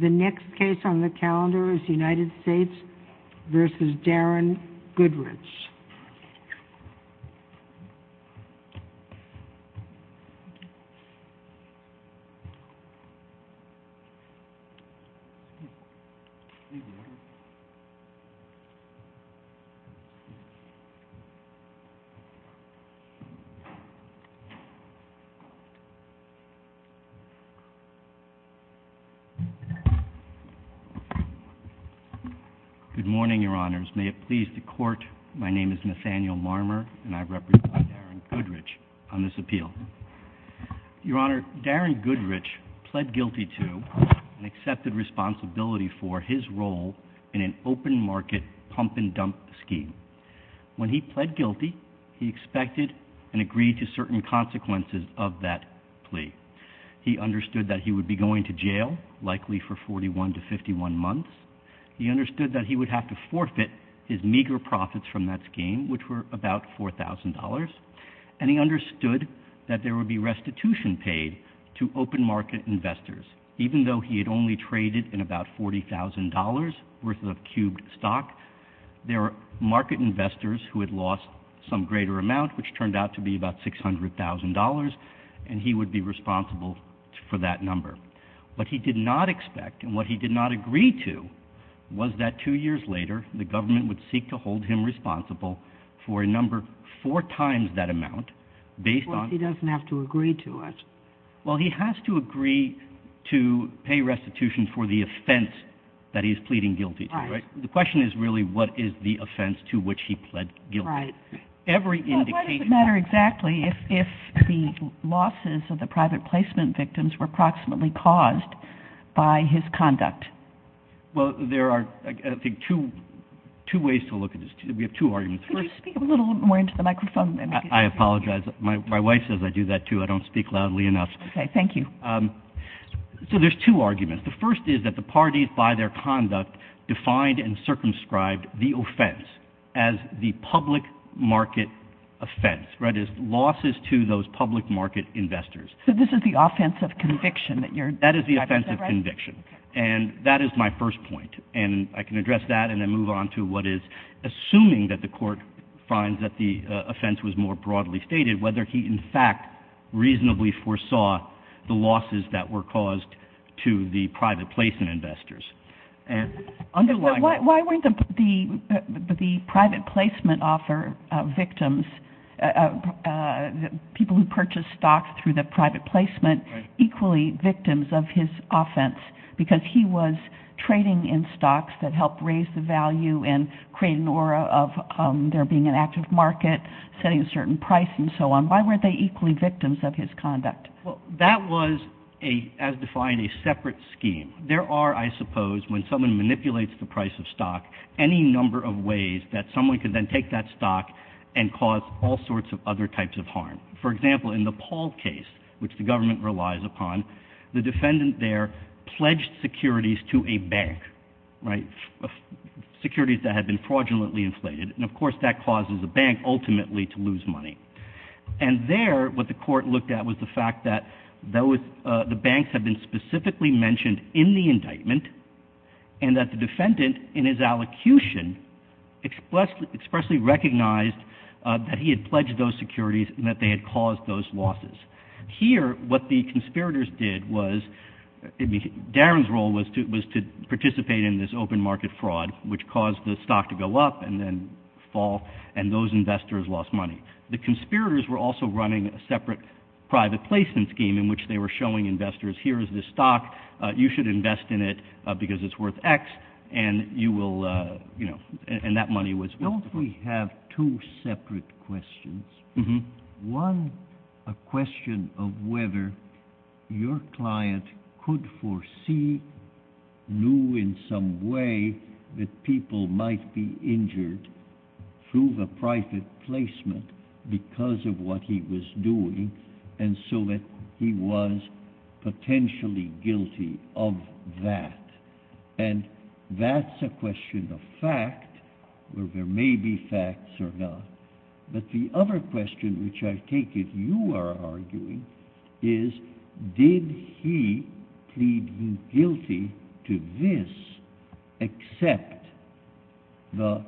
The next case on the calendar is United States v. Darren Goodrich. Good morning, Your Honors. May it please the Court, my name is Nathaniel Marmer, and I represent Darren Goodrich on this appeal. Your Honor, Darren Goodrich pled guilty to and accepted responsibility for his role in an open market pump and dump scheme. When he pled guilty, he expected and agreed to certain consequences of that plea. He understood that he would be going to jail, likely for 41 to 51 months. He understood that he would have to forfeit his meager profits from that scheme, which were about $4,000. And he understood that there would be restitution paid to open market investors. Even though he had only traded in about $40,000 worth of cubed stock, there were market investors who had lost some greater amount, which turned out to be about $600,000, and he would be responsible for that number. What he did not expect and what he did not agree to was that two years later, the government would seek to hold him responsible for a number four times that amount, based on — Well, he doesn't have to agree to it. Well, he has to agree to pay restitution for the offense that he's pleading guilty to, right? Right. The question is really what is the offense to which he pled guilty. Right. Every indication — If the losses of the private placement victims were approximately caused by his conduct. Well, there are, I think, two ways to look at this. We have two arguments. Could you speak a little more into the microphone? I apologize. My wife says I do that, too. I don't speak loudly enough. Okay. Thank you. So there's two arguments. The first is that the parties, by their conduct, defined and circumscribed the offense as the public market offense. Right? It's losses to those public market investors. So this is the offense of conviction that you're describing? That is the offense of conviction. And that is my first point. And I can address that and then move on to what is assuming that the court finds that the offense was more broadly stated, whether he, in fact, reasonably foresaw the losses that were caused to the private placement investors. Why weren't the private placement offer victims, people who purchased stocks through the private placement, equally victims of his offense because he was trading in stocks that helped raise the value and create an aura of there being an active market, setting a certain price, and so on? Why weren't they equally victims of his conduct? Well, that was, as defined, a separate scheme. There are, I suppose, when someone manipulates the price of stock, any number of ways that someone could then take that stock and cause all sorts of other types of harm. For example, in the Paul case, which the government relies upon, the defendant there pledged securities to a bank, right? Securities that had been fraudulently inflated. And, of course, that causes a bank ultimately to lose money. And there, what the court looked at was the fact that the banks had been specifically mentioned in the indictment and that the defendant, in his allocution, expressly recognized that he had pledged those securities and that they had caused those losses. Here, what the conspirators did was, Darren's role was to participate in this open market fraud, which caused the stock to go up and then fall, and those investors lost money. The conspirators were also running a separate private placement scheme in which they were showing investors, here is this stock, you should invest in it because it's worth X, and you will, you know, and that money was... Don't we have two separate questions? One, a question of whether your client could foresee, knew in some way, that people might be injured through the private placement because of what he was doing, and so that he was potentially guilty of that. And that's a question of fact, where there may be facts or not. But the other question, which I take it you are arguing, is did he plead guilty to this except the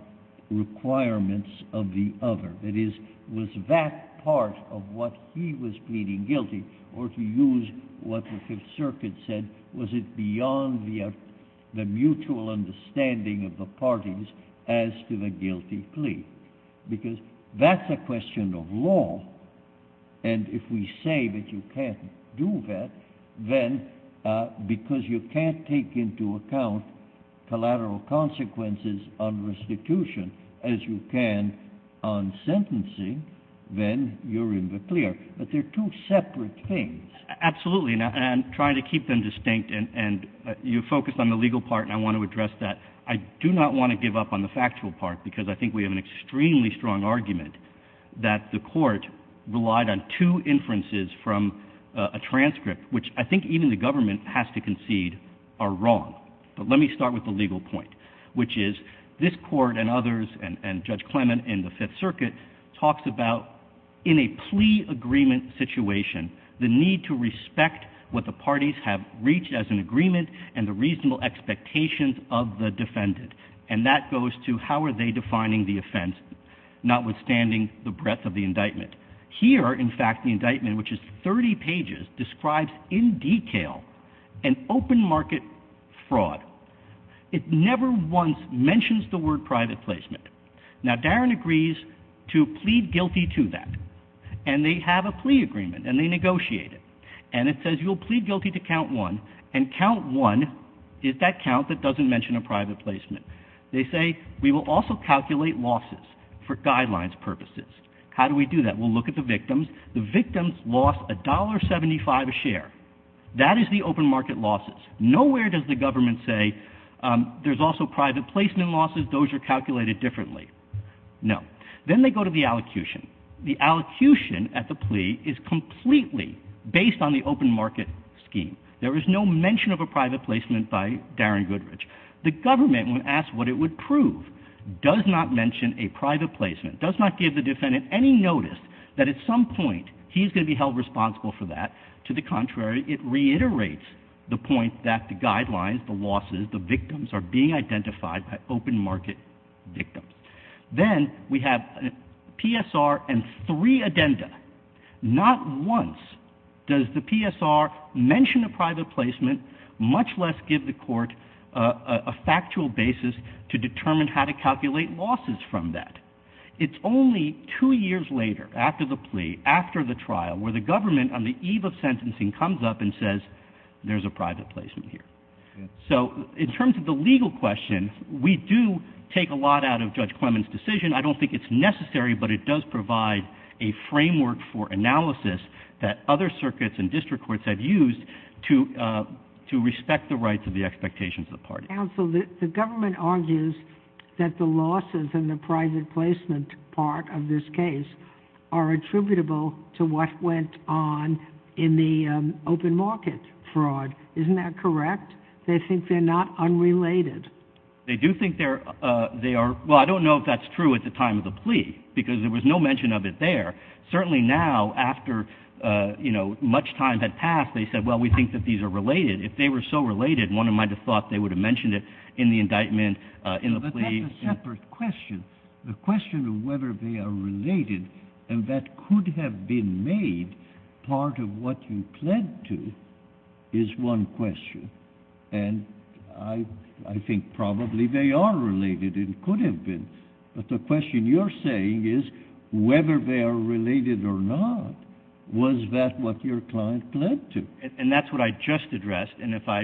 requirements of the other? That is, was that part of what he was pleading guilty, or to use what the Fifth Circuit said, was it beyond the mutual understanding of the parties as to the guilty plea? Because that's a question of law, and if we say that you can't do that, then because you can't take into account collateral consequences on restitution, as you can on sentencing, then you're in the clear. But they're two separate things. Absolutely, and I'm trying to keep them distinct, and you focused on the legal part, and I want to address that. I do not want to give up on the factual part, because I think we have an extremely strong argument that the Court relied on two inferences from a transcript, which I think even the government has to concede are wrong. But let me start with the legal point, which is this Court and others and Judge Clement in the Fifth Circuit talks about in a plea agreement situation, the need to respect what the parties have reached as an agreement and the reasonable expectations of the defendant. And that goes to how are they defining the offense, notwithstanding the breadth of the indictment. Here, in fact, the indictment, which is 30 pages, describes in detail an open market fraud. It never once mentions the word private placement. Now, Darren agrees to plead guilty to that, and they have a plea agreement, and they negotiate it. And it says you'll plead guilty to count one, and count one is that count that doesn't mention a private placement. They say we will also calculate losses for guidelines purposes. How do we do that? We'll look at the victims. The victims lost $1.75 a share. That is the open market losses. Nowhere does the government say there's also private placement losses. Those are calculated differently. No. Then they go to the allocution. The allocution at the plea is completely based on the open market scheme. There is no mention of a private placement by Darren Goodrich. The government, when asked what it would prove, does not mention a private placement, does not give the defendant any notice that at some point he's going to be held responsible for that. To the contrary, it reiterates the point that the guidelines, the losses, the victims are being identified as open market victims. Then we have PSR and three addenda. Not once does the PSR mention a private placement, much less give the court a factual basis to determine how to calculate losses from that. It's only two years later, after the plea, after the trial, where the government on the eve of sentencing comes up and says there's a private placement here. So in terms of the legal question, we do take a lot out of Judge Clement's decision. I don't think it's necessary, but it does provide a framework for analysis that other circuits and district courts have used to respect the rights of the expectations of the party. Counsel, the government argues that the losses in the private placement part of this case are attributable to what went on in the open market fraud. Isn't that correct? They think they're not unrelated. They do think they are. Well, I don't know if that's true at the time of the plea because there was no mention of it there. Certainly now, after much time had passed, they said, well, we think that these are related. If they were so related, one might have thought they would have mentioned it in the indictment, in the plea. But that's a separate question. The question of whether they are related and that could have been made part of what you pled to is one question. And I think probably they are related and could have been. But the question you're saying is whether they are related or not. Was that what your client pled to? And that's what I just addressed. And if I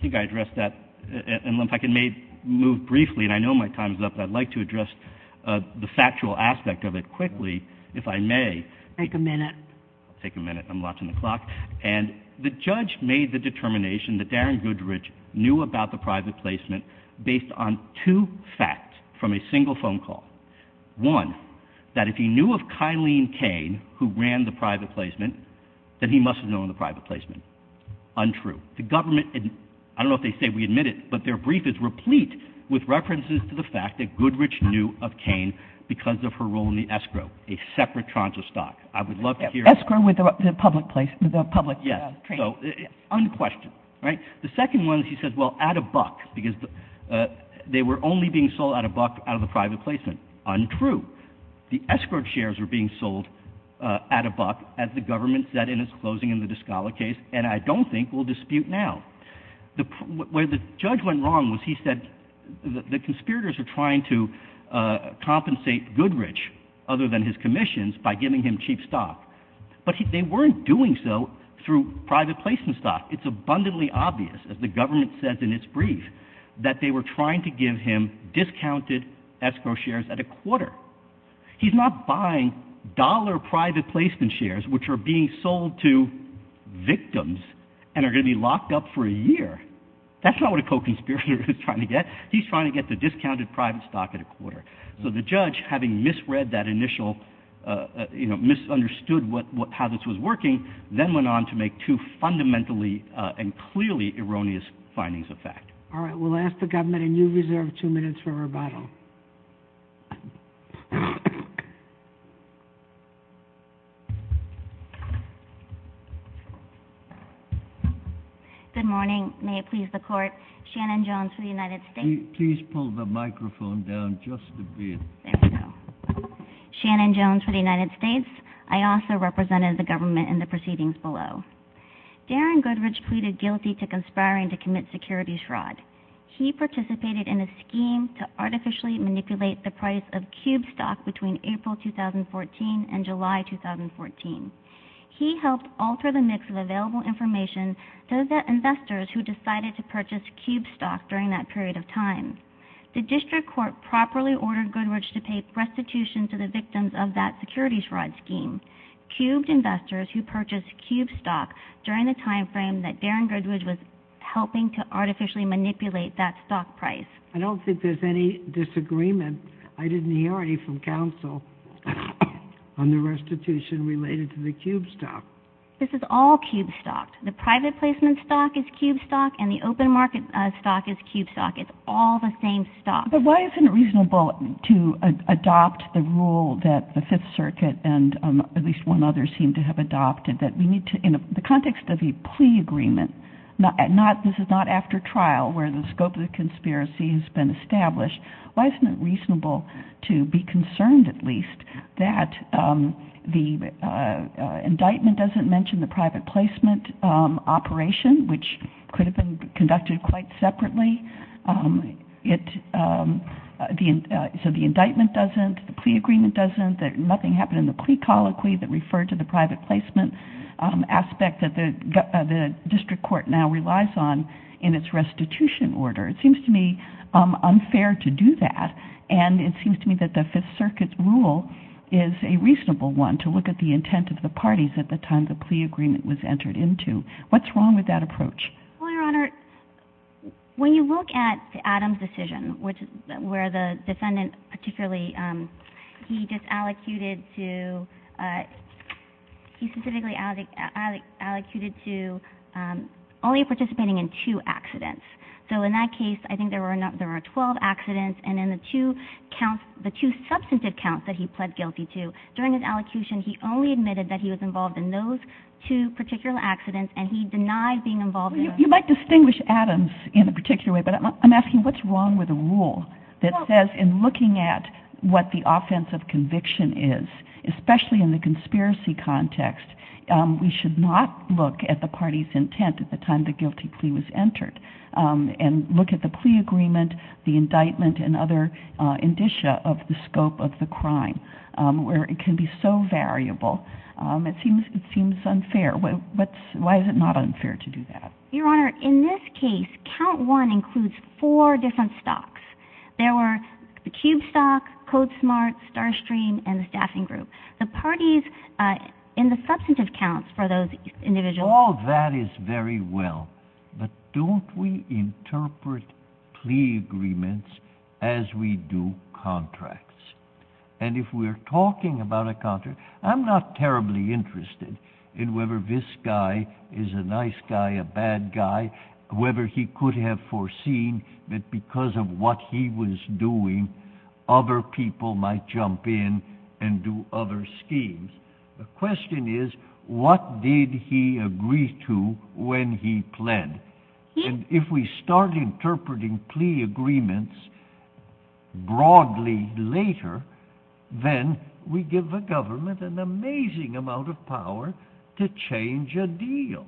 can move briefly, and I know my time is up, but I'd like to address the factual aspect of it quickly, if I may. Take a minute. I'll take a minute. I'm watching the clock. And the judge made the determination that Darren Goodrich knew about the private placement based on two facts from a single phone call. One, that if he knew of Kyleen Cain, who ran the private placement, then he must have known the private placement. Untrue. The government, I don't know if they say we admit it, but their brief is replete with references to the fact that Goodrich knew of Cain because of her role in the escrow. A separate tranche of stock. I would love to hear. Escrow with the public placement. Yes. Unquestioned. Right? The second one, he says, well, at a buck, because they were only being sold at a buck out of the private placement. Untrue. The escrow shares were being sold at a buck, as the government said in its closing in the Discala case, and I don't think we'll dispute now. Where the judge went wrong was he said the conspirators are trying to compensate Goodrich, other than his commissions, by giving him cheap stock. But they weren't doing so through private placement stock. It's abundantly obvious, as the government says in its brief, that they were trying to give him discounted escrow shares at a quarter. He's not buying dollar private placement shares, which are being sold to victims and are going to be locked up for a year. That's not what a co-conspirator is trying to get. He's trying to get the discounted private stock at a quarter. So the judge, having misread that initial, misunderstood how this was working, then went on to make two fundamentally and clearly erroneous findings of fact. All right, we'll ask the government a new reserve of two minutes for rebuttal. Good morning. May it please the court. Shannon Jones for the United States. Please pull the microphone down just a bit. There we go. Shannon Jones for the United States. I also represented the government in the proceedings below. Darren Goodrich pleaded guilty to conspiring to commit security fraud. He participated in a scheme to artificially manipulate the price of Cube stock between April 2014 and July 2014. He helped alter the mix of available information to the investors who decided to purchase Cube stock during that period of time. The district court properly ordered Goodrich to pay restitution to the victims of that security fraud scheme. Cube investors who purchased Cube stock during the time frame that Darren Goodrich was helping to artificially manipulate that stock price. I don't think there's any disagreement. I didn't hear any from counsel on the restitution related to the Cube stock. This is all Cube stock. The private placement stock is Cube stock, and the open market stock is Cube stock. It's all the same stock. But why isn't it reasonable to adopt the rule that the Fifth Circuit and at least one other seem to have adopted that we need to, in the context of a plea agreement, this is not after trial where the scope of the conspiracy has been established, why isn't it reasonable to be concerned at least that the indictment doesn't mention the private placement operation, which could have been conducted quite separately, so the indictment doesn't, the plea agreement doesn't, nothing happened in the plea colloquy that referred to the private placement aspect that the district court now relies on in its restitution order. It seems to me unfair to do that, and it seems to me that the Fifth Circuit's rule is a reasonable one to look at the intent of the parties at the time the plea agreement was entered into. What's wrong with that approach? Well, Your Honor, when you look at Adam's decision, where the defendant particularly, he just allocated to, he specifically allocated to only participating in two accidents. So in that case, I think there were 12 accidents, and in the two substantive counts that he pled guilty to, during his allocution, he only admitted that he was involved in those two particular accidents, and he denied being involved in those. You might distinguish Adam's in a particular way, but I'm asking what's wrong with a rule that says in looking at what the offense of conviction is, especially in the conspiracy context, we should not look at the party's intent at the time the guilty plea was entered, and look at the plea agreement, the indictment, and other indicia of the scope of the crime, where it can be so variable. It seems unfair. Why is it not unfair to do that? Your Honor, in this case, count one includes four different stocks. There were the Cube stock, Code Smart, StarStream, and the staffing group. The parties in the substantive counts for those individuals... All that is very well, but don't we interpret plea agreements as we do contracts? And if we're talking about a contract, I'm not terribly interested in whether this guy is a nice guy, a bad guy, whether he could have foreseen that because of what he was doing, other people might jump in and do other schemes. The question is, what did he agree to when he pled? And if we start interpreting plea agreements broadly later, then we give the government an amazing amount of power to change a deal.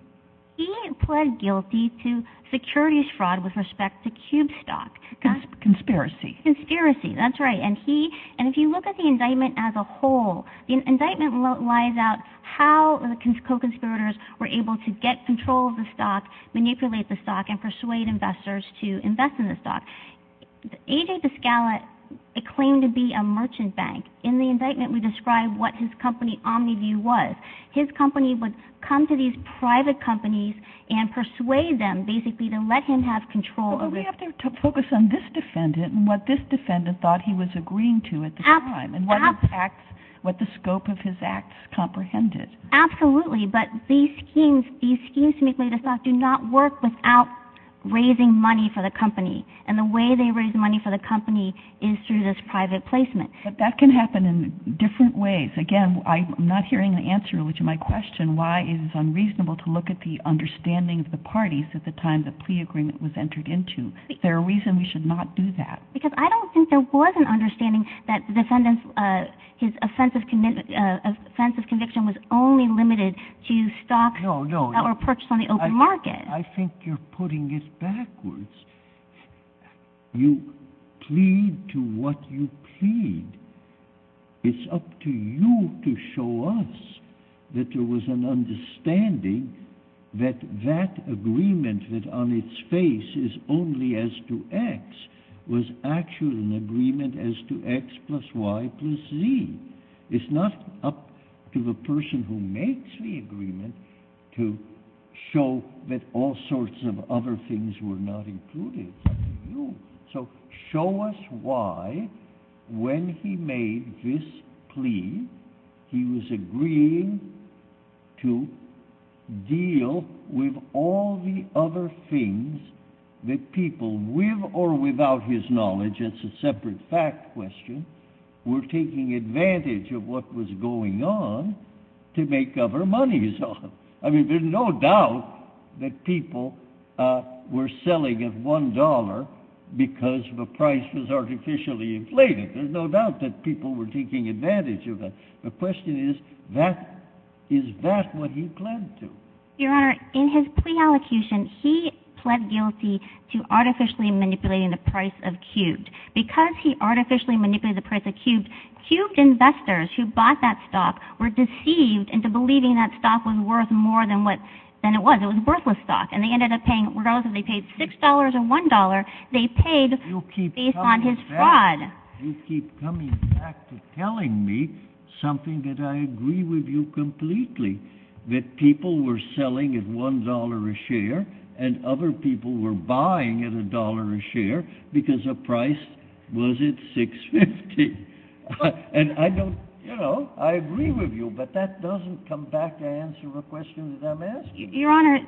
He pled guilty to securities fraud with respect to Cube stock. Conspiracy. Conspiracy, that's right. And if you look at the indictment as a whole, the indictment lies out how the co-conspirators were able to get control of the stock, manipulate the stock, and persuade investors to invest in the stock. A.J. DeScala claimed to be a merchant bank. In the indictment, we describe what his company, Omniview, was. His company would come to these private companies and persuade them, basically, to let him have control. Well, we have to focus on this defendant and what this defendant thought he was agreeing to at the time and what the scope of his acts comprehended. Absolutely, but these schemes to manipulate the stock do not work without raising money for the company, and the way they raise money for the company is through this private placement. But that can happen in different ways. Again, I'm not hearing the answer to my question, why it is unreasonable to look at the understanding of the parties at the time the plea agreement was entered into. Is there a reason we should not do that? Because I don't think there was an understanding that the defendant's offensive conviction was only limited to stock or purchase on the open market. I think you're putting it backwards. You plead to what you plead. It's up to you to show us that there was an understanding that that agreement that on its face is only as to X was actually an agreement as to X plus Y plus Z. It's not up to the person who makes the agreement to show that all sorts of other things were not included. So show us why when he made this plea he was agreeing to deal with all the other things that people, with or without his knowledge, it's a separate fact question, were taking advantage of what was going on to make other monies. I mean, there's no doubt that people were selling at $1 because the price was artificially inflated. There's no doubt that people were taking advantage of that. The question is, is that what he pled to? Your Honor, in his plea allocution, he pled guilty to artificially manipulating the price of cubed. Cubed investors who bought that stock were deceived into believing that stock was worth more than it was. It was worthless stock. And they ended up paying, regardless if they paid $6 or $1, they paid based on his fraud. You keep coming back to telling me something that I agree with you completely, that people were selling at $1 a share and other people were buying at $1 a share because the price was at $6.50. And I don't, you know, I agree with you, but that doesn't come back to answer the question that I'm asking. Your Honor,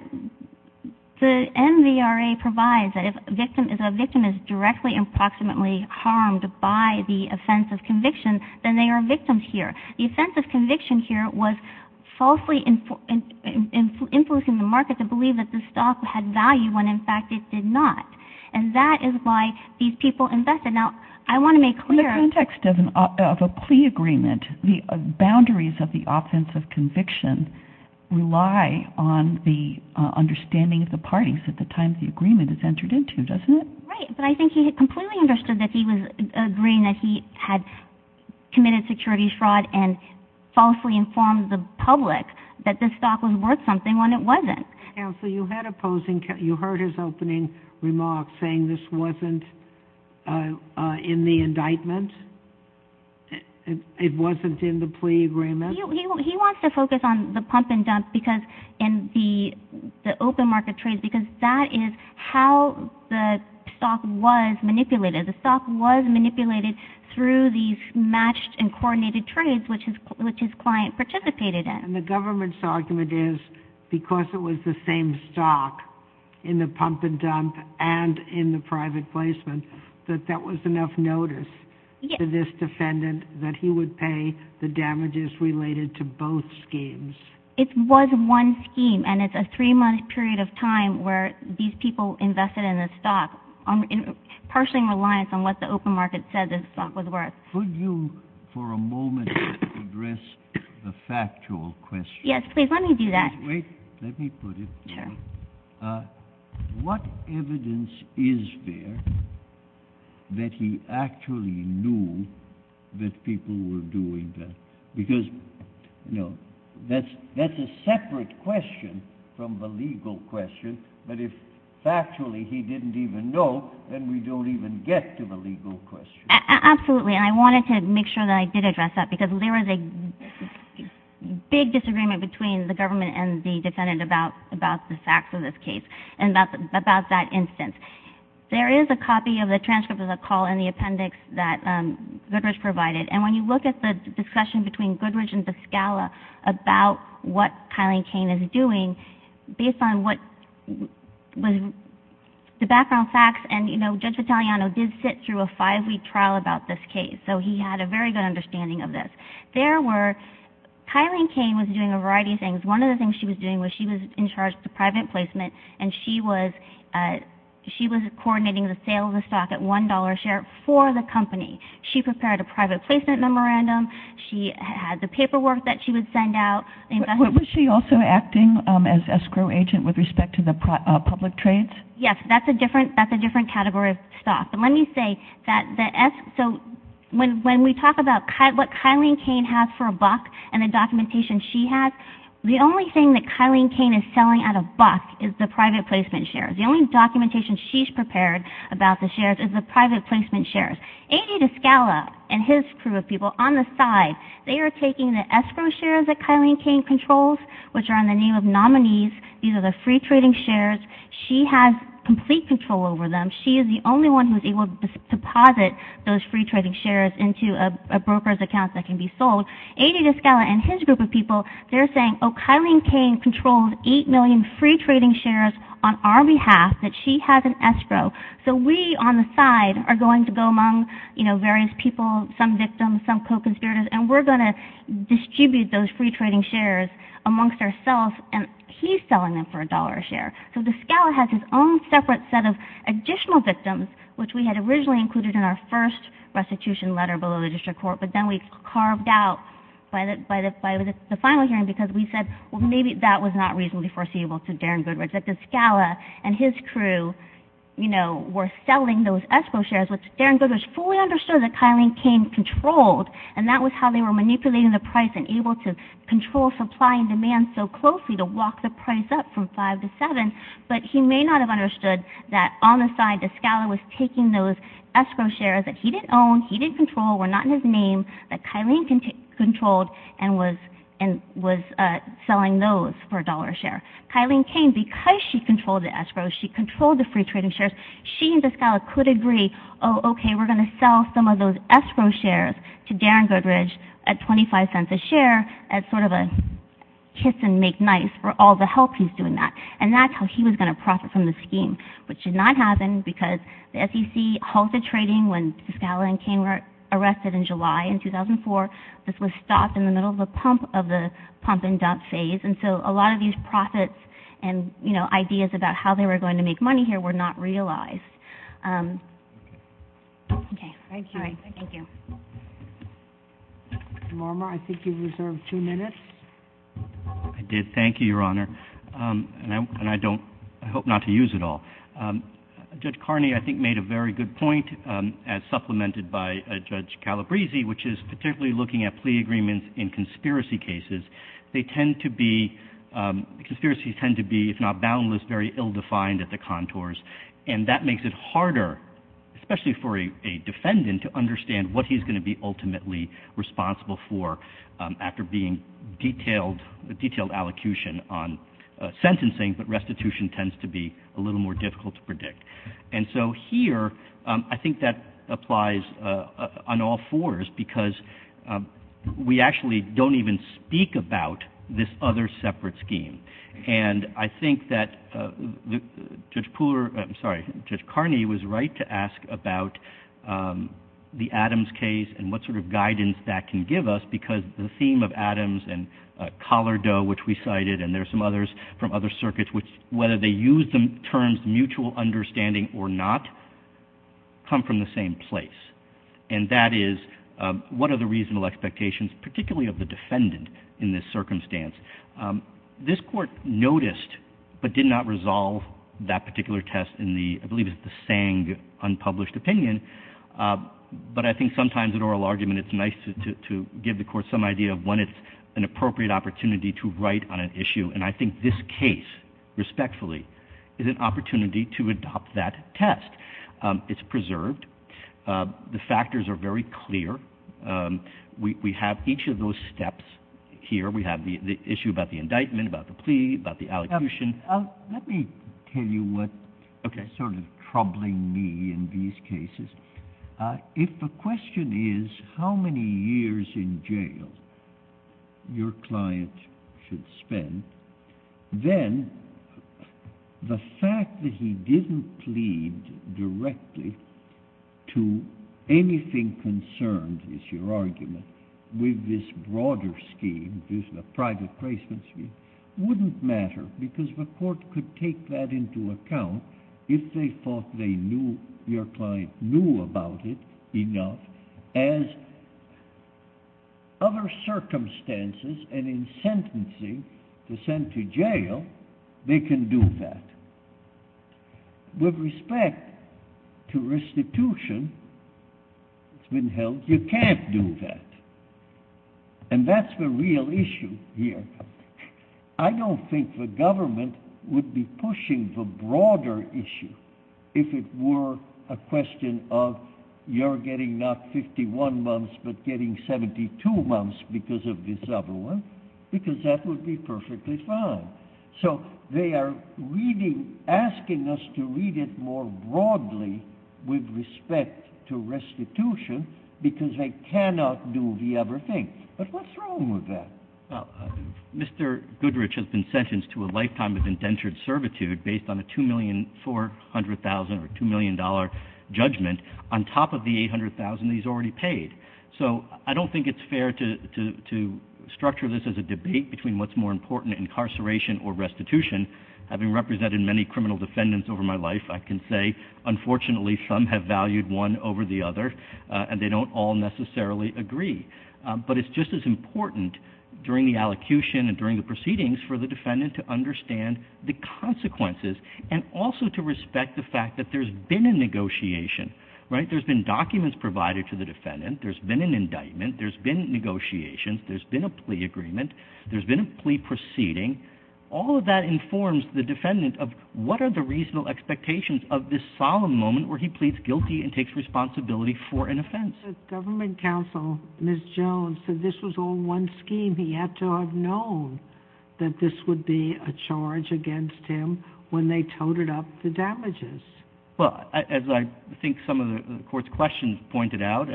the MVRA provides that if a victim is directly or approximately harmed by the offense of conviction, then they are victims here. The offense of conviction here was falsely influencing the market to believe that the stock had value when, in fact, it did not. And that is why these people invested. Now, I want to make clear. In the context of a plea agreement, the boundaries of the offense of conviction rely on the understanding of the parties at the time the agreement is entered into, doesn't it? Right, but I think he completely understood that he was agreeing that he had committed security fraud and falsely informed the public that this stock was worth something when it wasn't. Counsel, you heard his opening remarks saying this wasn't in the indictment? It wasn't in the plea agreement? He wants to focus on the pump and dump and the open market trades because that is how the stock was manipulated. The stock was manipulated through these matched and coordinated trades, which his client participated in. And the government's argument is because it was the same stock in the pump and dump and in the private placement, that that was enough notice to this defendant that he would pay the damages related to both schemes. It was one scheme, and it's a three-month period of time where these people invested in the stock, partially in reliance on what the open market said the stock was worth. Could you, for a moment, address the factual question? Yes, please, let me do that. Wait, let me put it. What evidence is there that he actually knew that people were doing that? Because, you know, that's a separate question from the legal question, but if factually he didn't even know, then we don't even get to the legal question. Absolutely, and I wanted to make sure that I did address that, because there was a big disagreement between the government and the defendant about the facts of this case and about that instance. There is a copy of the transcript of the call in the appendix that Goodrich provided, and when you look at the discussion between Goodrich and Piscala about what Kylene Kane is doing, based on what was the background facts, and, you know, Judge Vitaliano did sit through a five-week trial about this case, so he had a very good understanding of this. There were – Kylene Kane was doing a variety of things. One of the things she was doing was she was in charge of the private placement, and she was coordinating the sale of the stock at $1 a share for the company. She prepared a private placement memorandum. She had the paperwork that she would send out. Was she also acting as escrow agent with respect to the public trades? Yes, that's a different category of stock. But let me say that the – so when we talk about what Kylene Kane has for a buck and the documentation she has, the only thing that Kylene Kane is selling at a buck is the private placement shares. The only documentation she's prepared about the shares is the private placement shares. A.D. Piscala and his crew of people on the side, they are taking the escrow shares that Kylene Kane controls, which are in the name of nominees. These are the free trading shares. She has complete control over them. She is the only one who is able to deposit those free trading shares into a broker's account that can be sold. A.D. Piscala and his group of people, they're saying, oh, Kylene Kane controls 8 million free trading shares on our behalf, that she has an escrow. So we on the side are going to go among various people, some victims, some co-conspirators, and we're going to distribute those free trading shares amongst ourselves, and he's selling them for $1 a share. So Piscala has his own separate set of additional victims, which we had originally included in our first restitution letter below the district court, but then we carved out by the final hearing because we said, well, maybe that was not reasonably foreseeable to Darren Goodridge, that Piscala and his crew were selling those escrow shares, which Darren Goodridge fully understood that Kylene Kane controlled, and that was how they were manipulating the price and able to control supply and demand so closely to walk the price up from 5 to 7, but he may not have understood that on the side, Piscala was taking those escrow shares that he didn't own, he didn't control, were not in his name, that Kylene controlled and was selling those for $1 a share. Kylene Kane, because she controlled the escrow, she controlled the free trading shares, she and Piscala could agree, oh, okay, we're going to sell some of those escrow shares to Darren Goodridge at $0.25 a share as sort of a kiss and make nice for all the help he's doing that, and that's how he was going to profit from the scheme, which did not happen because the SEC halted trading when Piscala and Kane were arrested in July in 2004. This was stopped in the middle of the pump of the pump and dump phase, and so a lot of these profits and, you know, ideas about how they were going to make money here were not realized. Okay. Thank you. All right. Thank you. Mr. Morimer, I think you reserved two minutes. I did. Thank you, Your Honor, and I hope not to use it all. Judge Carney, I think, made a very good point, as supplemented by Judge Calabresi, which is particularly looking at plea agreements in conspiracy cases. They tend to be, conspiracies tend to be, if not boundless, very ill-defined at the contours, and that makes it harder, especially for a defendant, to understand what he's going to be ultimately responsible for after being detailed, detailed allocution on sentencing, but restitution tends to be a little more difficult to predict. And so here I think that applies on all fours because we actually don't even speak about this other separate scheme, and I think that Judge Pooler, I'm sorry, Judge Carney was right to ask about the Adams case and what sort of guidance that can give us because the theme of Adams and Collardoe, which we cited, and there are some others from other circuits which, whether they use the terms mutual understanding or not, come from the same place, and that is what are the reasonable expectations, particularly of the defendant in this circumstance. This Court noticed but did not resolve that particular test in the, I believe it's the Sang unpublished opinion, but I think sometimes in oral argument it's nice to give the Court some idea of when it's an appropriate opportunity to write on an issue, and I think this case, respectfully, is an opportunity to adopt that test. It's preserved. The factors are very clear. We have each of those steps here. We have the issue about the indictment, about the plea, about the allocution. Let me tell you what is sort of troubling me in these cases. If the question is how many years in jail your client should spend, then the fact that he didn't plead directly to anything concerned, is your argument, with this broader scheme, this private placement scheme, wouldn't matter because the Court could take that into account if they thought they knew, your client knew about it enough as other circumstances, and in sentencing, to send to jail, they can do that. With respect to restitution, it's been held you can't do that. And that's the real issue here. I don't think the government would be pushing the broader issue if it were a question of you're getting not 51 months but getting 72 months because of this other one, because that would be perfectly fine. So they are asking us to read it more broadly with respect to restitution because they cannot do the other thing. But what's wrong with that? Mr. Goodrich has been sentenced to a lifetime of indentured servitude based on a $2,400,000 or $2,000,000 judgment, on top of the $800,000 he's already paid. So I don't think it's fair to structure this as a debate between what's more important, incarceration or restitution. Having represented many criminal defendants over my life, I can say, unfortunately, some have valued one over the other, and they don't all necessarily agree. But it's just as important during the allocution and during the proceedings for the defendant to understand the consequences and also to respect the fact that there's been a negotiation. There's been documents provided to the defendant. There's been an indictment. There's been negotiations. There's been a plea agreement. There's been a plea proceeding. All of that informs the defendant of what are the reasonable expectations of this solemn moment where he pleads guilty and takes responsibility for an offense. The government counsel, Ms. Jones, said this was all one scheme. He had to have known that this would be a charge against him when they toted up the damages. Well, as I think some of the court's questions pointed out,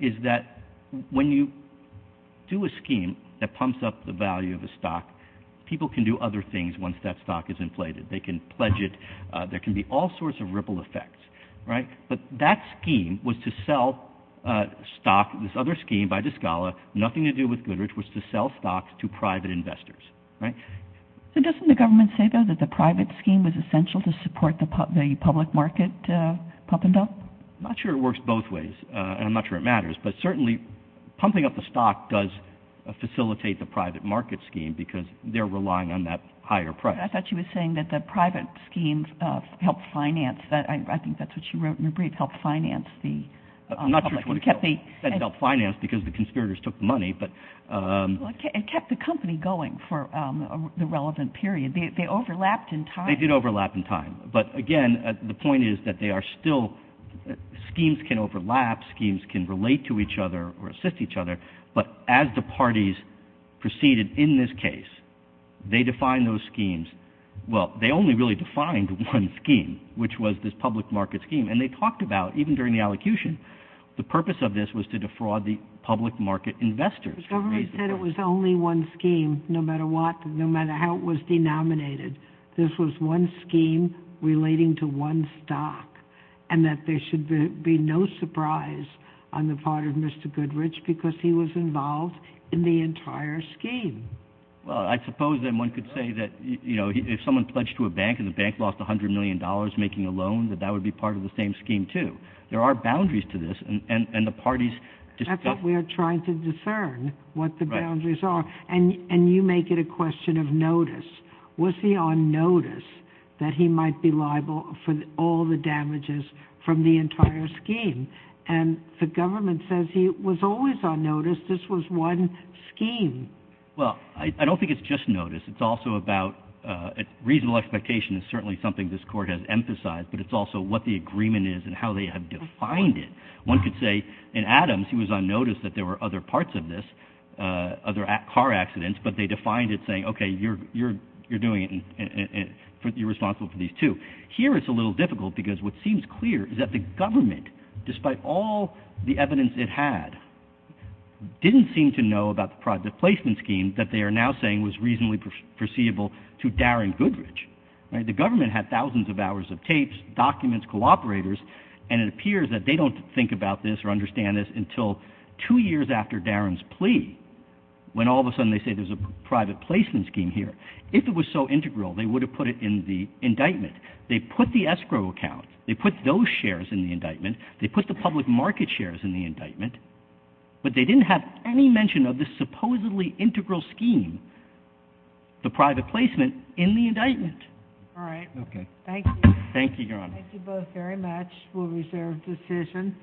is that when you do a scheme that pumps up the value of a stock, people can do other things once that stock is inflated. They can pledge it. There can be all sorts of ripple effects. But that scheme was to sell stock, this other scheme by Discala, nothing to do with Goodrich, was to sell stocks to private investors. Doesn't the government say, though, that the private scheme was essential to support the public market pump and dump? I'm not sure it works both ways, and I'm not sure it matters. But certainly pumping up the stock does facilitate the private market scheme because they're relying on that higher price. I thought you were saying that the private schemes helped finance. I think that's what you wrote in your brief, helped finance the public. Not sure which one it was that helped finance because the conspirators took the money. It kept the company going for the relevant period. They overlapped in time. They did overlap in time. But, again, the point is that they are still schemes can overlap, schemes can relate to each other or assist each other. But as the parties proceeded in this case, they defined those schemes. Well, they only really defined one scheme, which was this public market scheme. And they talked about, even during the allocution, the purpose of this was to defraud the public market investors. The government said it was only one scheme, no matter what, no matter how it was denominated. This was one scheme relating to one stock, and that there should be no surprise on the part of Mr. Goodrich because he was involved in the entire scheme. Well, I suppose then one could say that, you know, if someone pledged to a bank and the bank lost $100 million making a loan, that that would be part of the same scheme, too. There are boundaries to this, and the parties discussed it. That's what we are trying to discern, what the boundaries are. And you make it a question of notice. Was he on notice that he might be liable for all the damages from the entire scheme? And the government says he was always on notice this was one scheme. Well, I don't think it's just notice. It's also about reasonable expectation. It's certainly something this Court has emphasized, but it's also what the agreement is and how they have defined it. One could say, in Adams, he was on notice that there were other parts of this, other car accidents, but they defined it saying, okay, you're doing it and you're responsible for these, too. Here it's a little difficult because what seems clear is that the government, despite all the evidence it had, didn't seem to know about the private placement scheme that they are now saying was reasonably perceivable to Darren Goodrich. The government had thousands of hours of tapes, documents, cooperators, and it appears that they don't think about this or understand this until two years after Darren's plea, when all of a sudden they say there's a private placement scheme here. If it was so integral, they would have put it in the indictment. They put the escrow account. They put those shares in the indictment. They put the public market shares in the indictment, but they didn't have any mention of this supposedly integral scheme, the private placement, in the indictment. All right. Okay. Thank you. Thank you, Your Honor. Thank you both very much. We'll reserve decision.